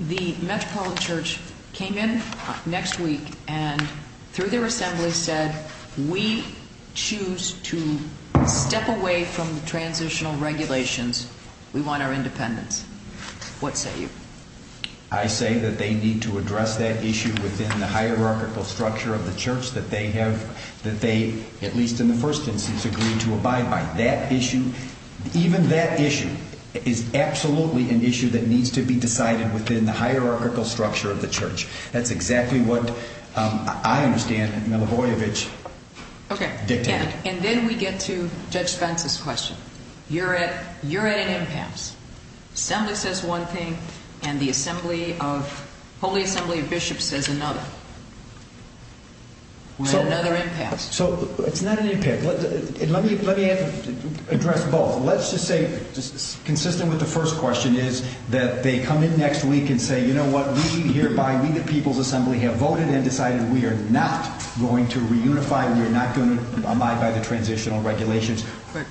the Metropolitan Church came in next week and through their assembly said we choose to step away from transitional regulations, we want our independence, what say you? I say that they need to address that issue within the hierarchical structure of the church that they at least in the first instance agreed to abide by. That issue, even that issue, is absolutely an issue that needs to be decided within the hierarchical structure of the church. That's exactly what I understand Milovojevic dictated. Okay. And then we get to Judge Spence's question. You're at an impasse. Assembly says one thing and the assembly of holy assembly of bishops says another. We're at another impasse. So it's not an impasse. Let me address both. Let's just say consistent with the first question is that they come in next week and say, you know what, we hereby, we the people's assembly have voted and decided we are not going to reunify. We are not going to abide by the transitional regulations.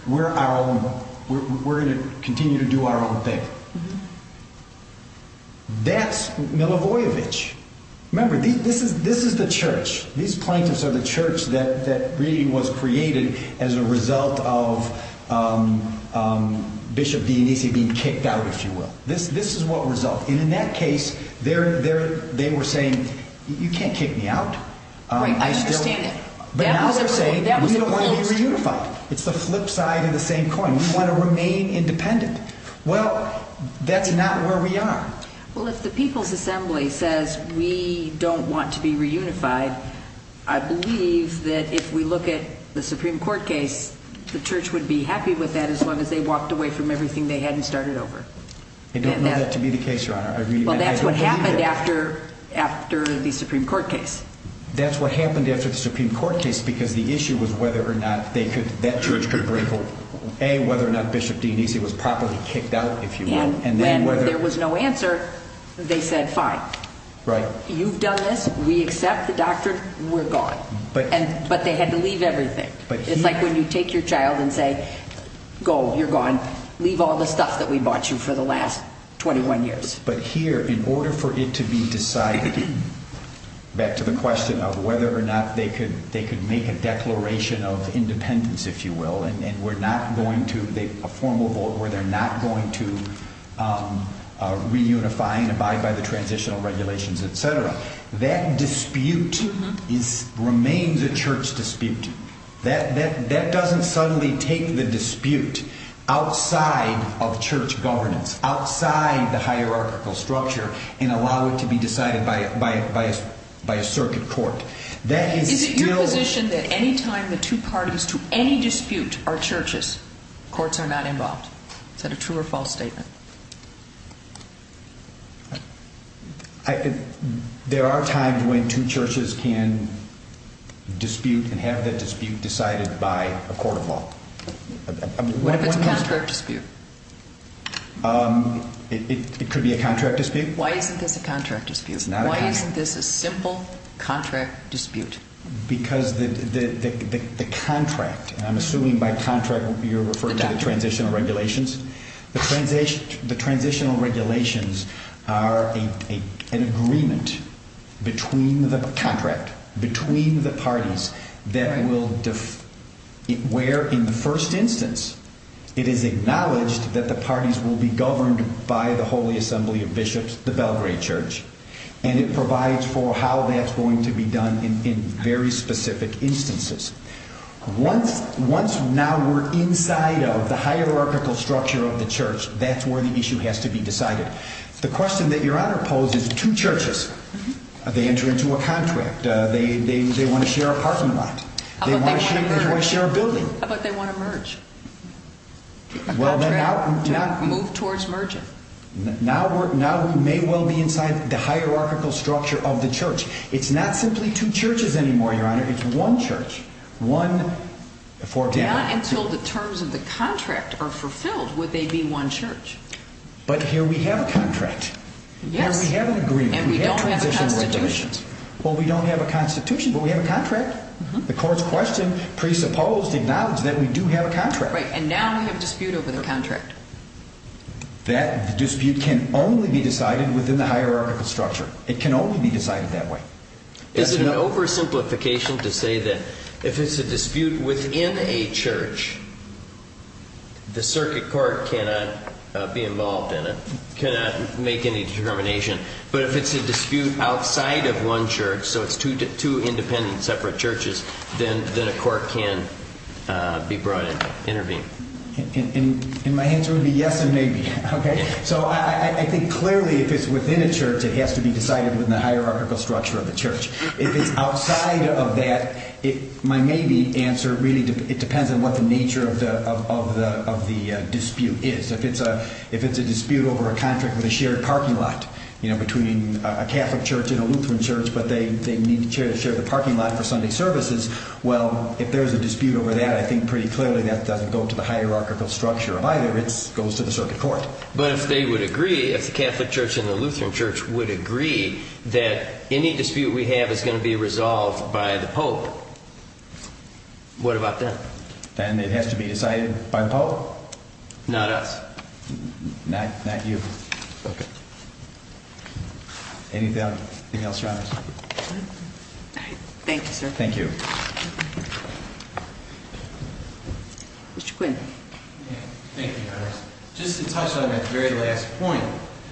We're going to continue to do our own thing. That's Milovojevic. Remember, this is the church. These plaintiffs are the church that really was created as a result of Bishop Dionisi being kicked out, if you will. This is what resulted. And in that case, they were saying, you can't kick me out. Right. I understand that. But now they're saying we don't want to be reunified. It's the flip side of the same coin. We want to remain independent. Well, that's not where we are. Well, if the people's assembly says we don't want to be reunified, I believe that if we look at the Supreme Court case, the church would be happy with that as long as they walked away from everything they hadn't started over. I don't know that to be the case, Your Honor. Well, that's what happened after the Supreme Court case. That's what happened after the Supreme Court case because the issue was whether or not that church could bring forth, A, whether or not Bishop Dionisi was properly kicked out, if you will. And when there was no answer, they said, fine. Right. You've done this. We accept the doctrine. We're gone. But they had to leave everything. It's like when you take your child and say, go. You're gone. Leave all the stuff that we bought you for the last 21 years. But here, in order for it to be decided, back to the question of whether or not they could make a declaration of independence, if you will, and a formal vote where they're not going to reunify and abide by the transitional regulations, et cetera, that dispute remains a church dispute. That doesn't suddenly take the dispute outside of church governance, outside the hierarchical structure, and allow it to be decided by a circuit court. Is it your position that any time the two parties to any dispute are churches, courts are not involved? Is that a true or false statement? There are times when two churches can dispute and have that dispute decided by a court of law. What if it's a contract dispute? It could be a contract dispute. Why isn't this a contract dispute? Why isn't this a simple contract dispute? Because the contract, and I'm assuming by contract you're referring to the transitional regulations. The transitional regulations are an agreement between the parties where, in the first instance, it is acknowledged that the parties will be governed by the Holy Assembly of Bishops, the Belgrade Church, and it provides for how that's going to be done in very specific instances. Once now we're inside of the hierarchical structure of the church, that's where the issue has to be decided. The question that Your Honor poses, two churches, they enter into a contract. They want to share a parking lot. They want to share a building. How about they want to merge? A contract to move towards merging. It's not simply two churches anymore, Your Honor. It's one church. Not until the terms of the contract are fulfilled would they be one church. But here we have a contract. Yes. And we don't have a constitution. Well, we don't have a constitution, but we have a contract. The court's question presupposed, acknowledged that we do have a contract. Right, and now we have a dispute over the contract. That dispute can only be decided within the hierarchical structure. It can only be decided that way. Is it an oversimplification to say that if it's a dispute within a church, the circuit court cannot be involved in it, cannot make any determination? But if it's a dispute outside of one church, so it's two independent separate churches, then a court can be brought in, intervene. And my answer would be yes and maybe. So I think clearly if it's within a church, it has to be decided within the hierarchical structure of the church. If it's outside of that, my maybe answer really depends on what the nature of the dispute is. If it's a dispute over a contract with a shared parking lot between a Catholic church and a Lutheran church, but they need to share the parking lot for Sunday services, well, if there's a dispute over that, I think pretty clearly that doesn't go to the hierarchical structure either. It goes to the circuit court. But if they would agree, if the Catholic church and the Lutheran church would agree that any dispute we have is going to be resolved by the Pope, what about them? Then it has to be decided by the Pope. Not us. Not you. Okay. Anything else you want to say? Thank you, sir. Thank you. Mr. Quinn. Thank you, Your Honor. Just to touch on that very last point.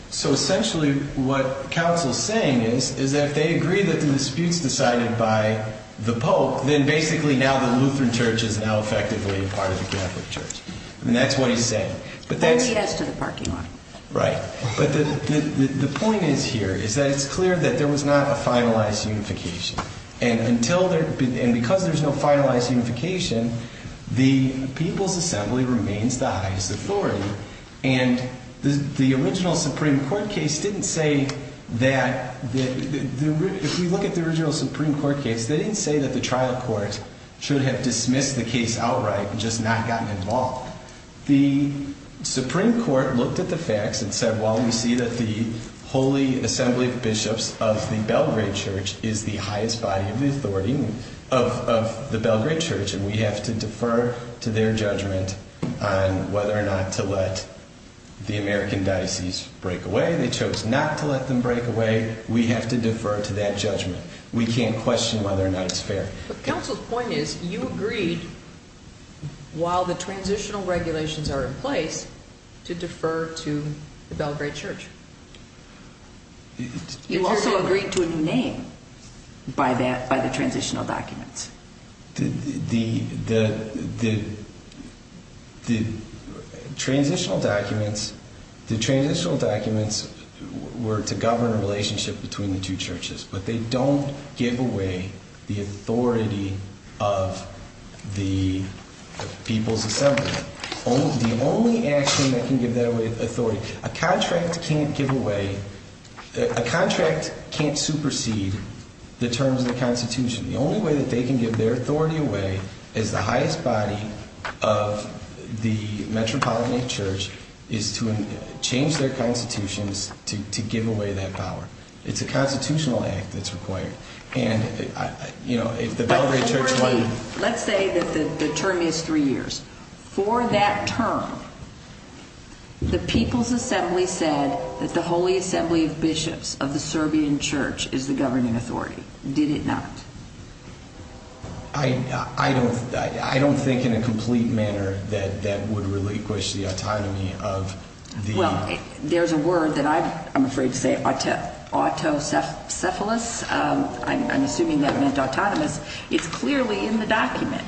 So essentially what counsel is saying is that if they agree that the dispute is decided by the Pope, then basically now the Lutheran church is now effectively part of the Catholic church. And that's what he's saying. Only as to the parking lot. Right. But the point is here is that it's clear that there was not a finalized unification. And because there's no finalized unification, the people's assembly remains the highest authority. And the original Supreme Court case didn't say that, if we look at the original Supreme Court case, they didn't say that the trial court should have dismissed the case outright and just not gotten involved. The Supreme Court looked at the facts and said, well, we see that the holy assembly of bishops of the Belgrade church is the highest body of the authority of the Belgrade church. And we have to defer to their judgment on whether or not to let the American diocese break away. They chose not to let them break away. We have to defer to that judgment. We can't question whether or not it's fair. But the council's point is you agreed, while the transitional regulations are in place, to defer to the Belgrade church. You also agreed to a new name by the transitional documents. The transitional documents were to govern a relationship between the two churches, but they don't give away the authority of the people's assembly. The only action that can give that away is authority. A contract can't give away, a contract can't supersede the terms of the constitution. The only way that they can give their authority away as the highest body of the metropolitan church is to change their constitutions to give away that power. It's a constitutional act that's required. Let's say that the term is three years. For that term, the people's assembly said that the holy assembly of bishops of the Serbian church is the governing authority. Did it not? I don't think in a complete manner that that would relinquish the autonomy of the... There's a word that I'm afraid to say, autocephalous. I'm assuming that meant autonomous. It's clearly in the document.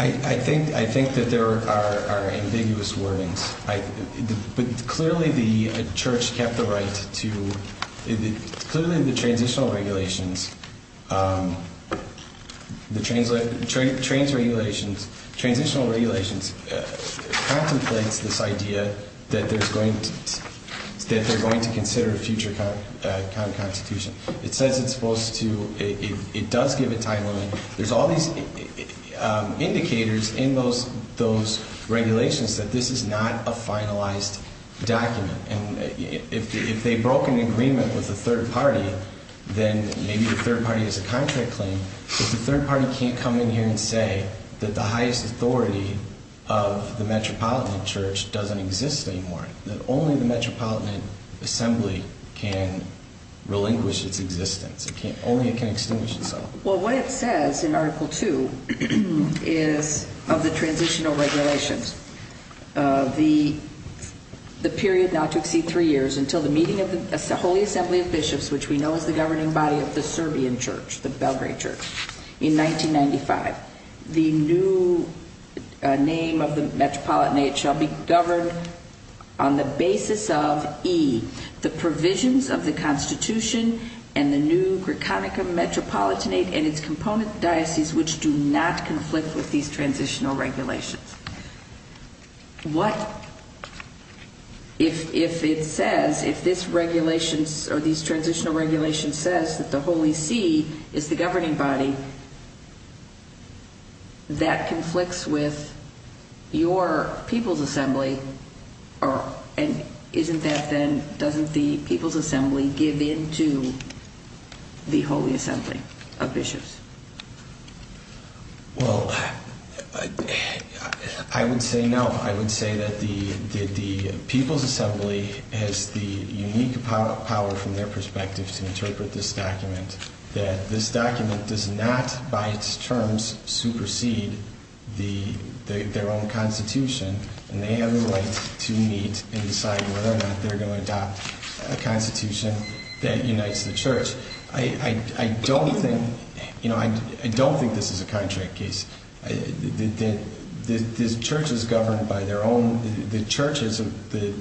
I think that there are ambiguous wordings. But clearly the church kept the right to... Clearly the transitional regulations contemplates this idea that they're going to consider a future kind of constitution. It says it's supposed to... It does give it time limit. There's all these indicators in those regulations that this is not a finalized document. And if they broke an agreement with the third party, then maybe the third party has a contract claim. But the third party can't come in here and say that the highest authority of the metropolitan church doesn't exist anymore. That only the metropolitan assembly can relinquish its existence. Only it can extinguish itself. Well, what it says in Article 2 is of the transitional regulations. The period not to exceed three years until the meeting of the holy assembly of bishops, which we know is the governing body of the Serbian church, the Belgrade church, in 1995. The new name of the metropolitanate shall be governed on the basis of E. The provisions of the constitution and the new Greconica metropolitanate and its component diocese, which do not conflict with these transitional regulations. What if it says, if this regulation or these transitional regulations says that the Holy See is the governing body, that conflicts with your people's assembly? And isn't that then, doesn't the people's assembly give in to the holy assembly of bishops? Well, I would say no. I would say that the people's assembly has the unique power from their perspective to interpret this document. That this document does not, by its terms, supersede their own constitution. And they have the right to meet and decide whether or not they're going to adopt a constitution that unites the church. I don't think, you know, I don't think this is a contract case. The church is governed by their own, the church is, the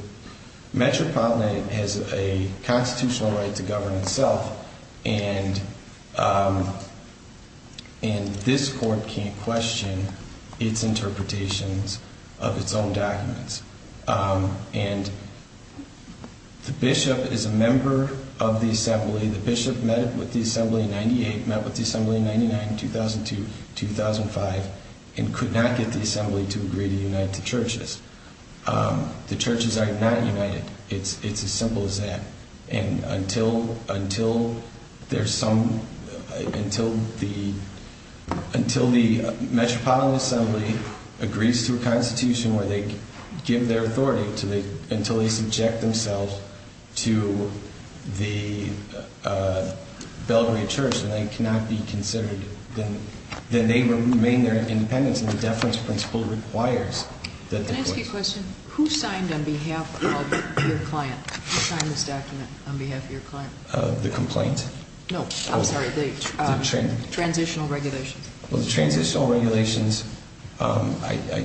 metropolitanate has a constitutional right to govern itself. And this court can't question its interpretations of its own documents. And the bishop is a member of the assembly. The bishop met with the assembly in 98, met with the assembly in 99, 2002, 2005, and could not get the assembly to agree to unite the churches. The churches are not united. It's as simple as that. And until, until there's some, until the, until the metropolitan assembly agrees to a constitution where they give their authority, until they subject themselves to the Belgrave church and they cannot be considered, then they remain their independence and the deference principle requires that they... Can I ask you a question? Who signed on behalf of your client? Who signed this document on behalf of your client? The complaint? No, I'm sorry, the transitional regulations. Well, the transitional regulations, I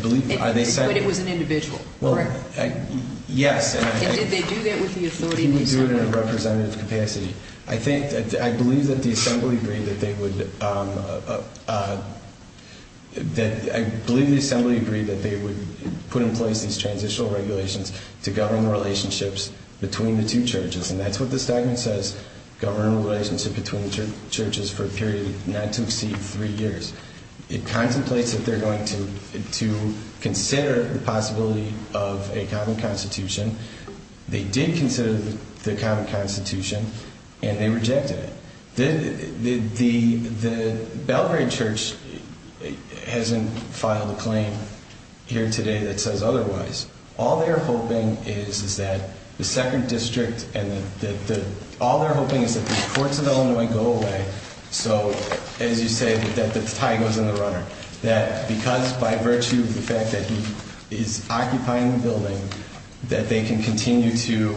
believe... But it was an individual, correct? Yes. And did they do that with the authority of the assembly? They did it in a representative capacity. I think, I believe that the assembly agreed that they would, that I believe the assembly agreed that they would put in place these transitional regulations to govern relationships between the two churches. And that's what this document says, govern a relationship between churches for a period not to exceed three years. It contemplates that they're going to, to consider the possibility of a common constitution. They did consider the common constitution and they rejected it. The Belgrave church hasn't filed a claim here today that says otherwise. All they're hoping is that the second district and the, all they're hoping is that the courts of Illinois go away. So, as you say, that the tie goes in the runner. That because by virtue of the fact that he is occupying the building, that they can continue to,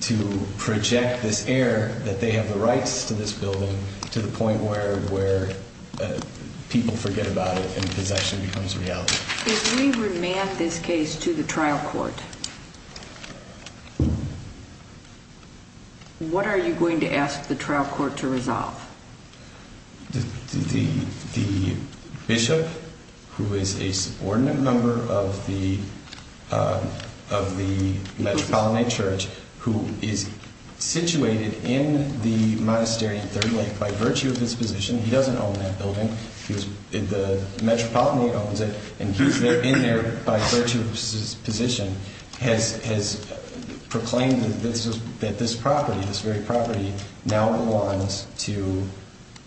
to project this error that they have the rights to this building to the point where, where people forget about it and possession becomes reality. If we remand this case to the trial court, what are you going to ask the trial court to resolve? The, the, the bishop who is a subordinate member of the, of the Metropolitan Church, who is situated in the monastery in Third Lake by virtue of his position, he doesn't own that building, he was, the Metropolitan owns it and he's there, in there by virtue of his position, has, has proclaimed that this was, that this property, this very property now belongs to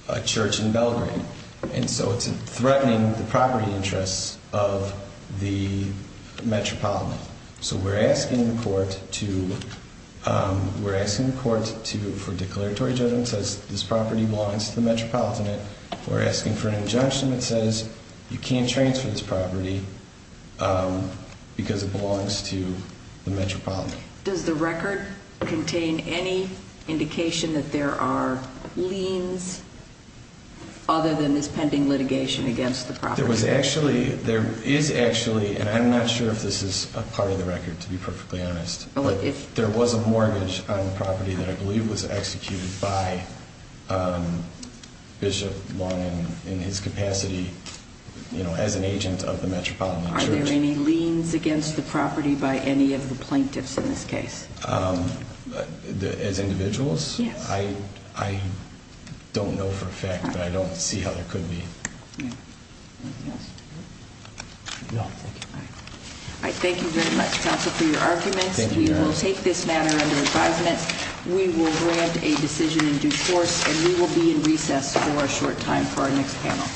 a church in Belgrave. And so it's threatening the property interests of the Metropolitan. So we're asking the court to, we're asking the court to, for declaratory judgment, says this property belongs to the Metropolitan. We're asking for an injunction that says you can't transfer this property because it belongs to the Metropolitan. Does the record contain any indication that there are liens other than this pending litigation against the property? There was actually, there is actually, and I'm not sure if this is a part of the record to be perfectly honest, but there was a mortgage on the property that I believe was executed by Bishop Long in his capacity, you know, as an agent of the Metropolitan Church. Are there any liens against the property by any of the plaintiffs in this case? As individuals? Yes. I, I don't know for a fact, but I don't see how there could be. Yeah. Anything else? No, thank you. I thank you very much, counsel, for your arguments. We will take this matter under advisement. We will grant a decision in due course, and we will be in recess for a short time for our next panel.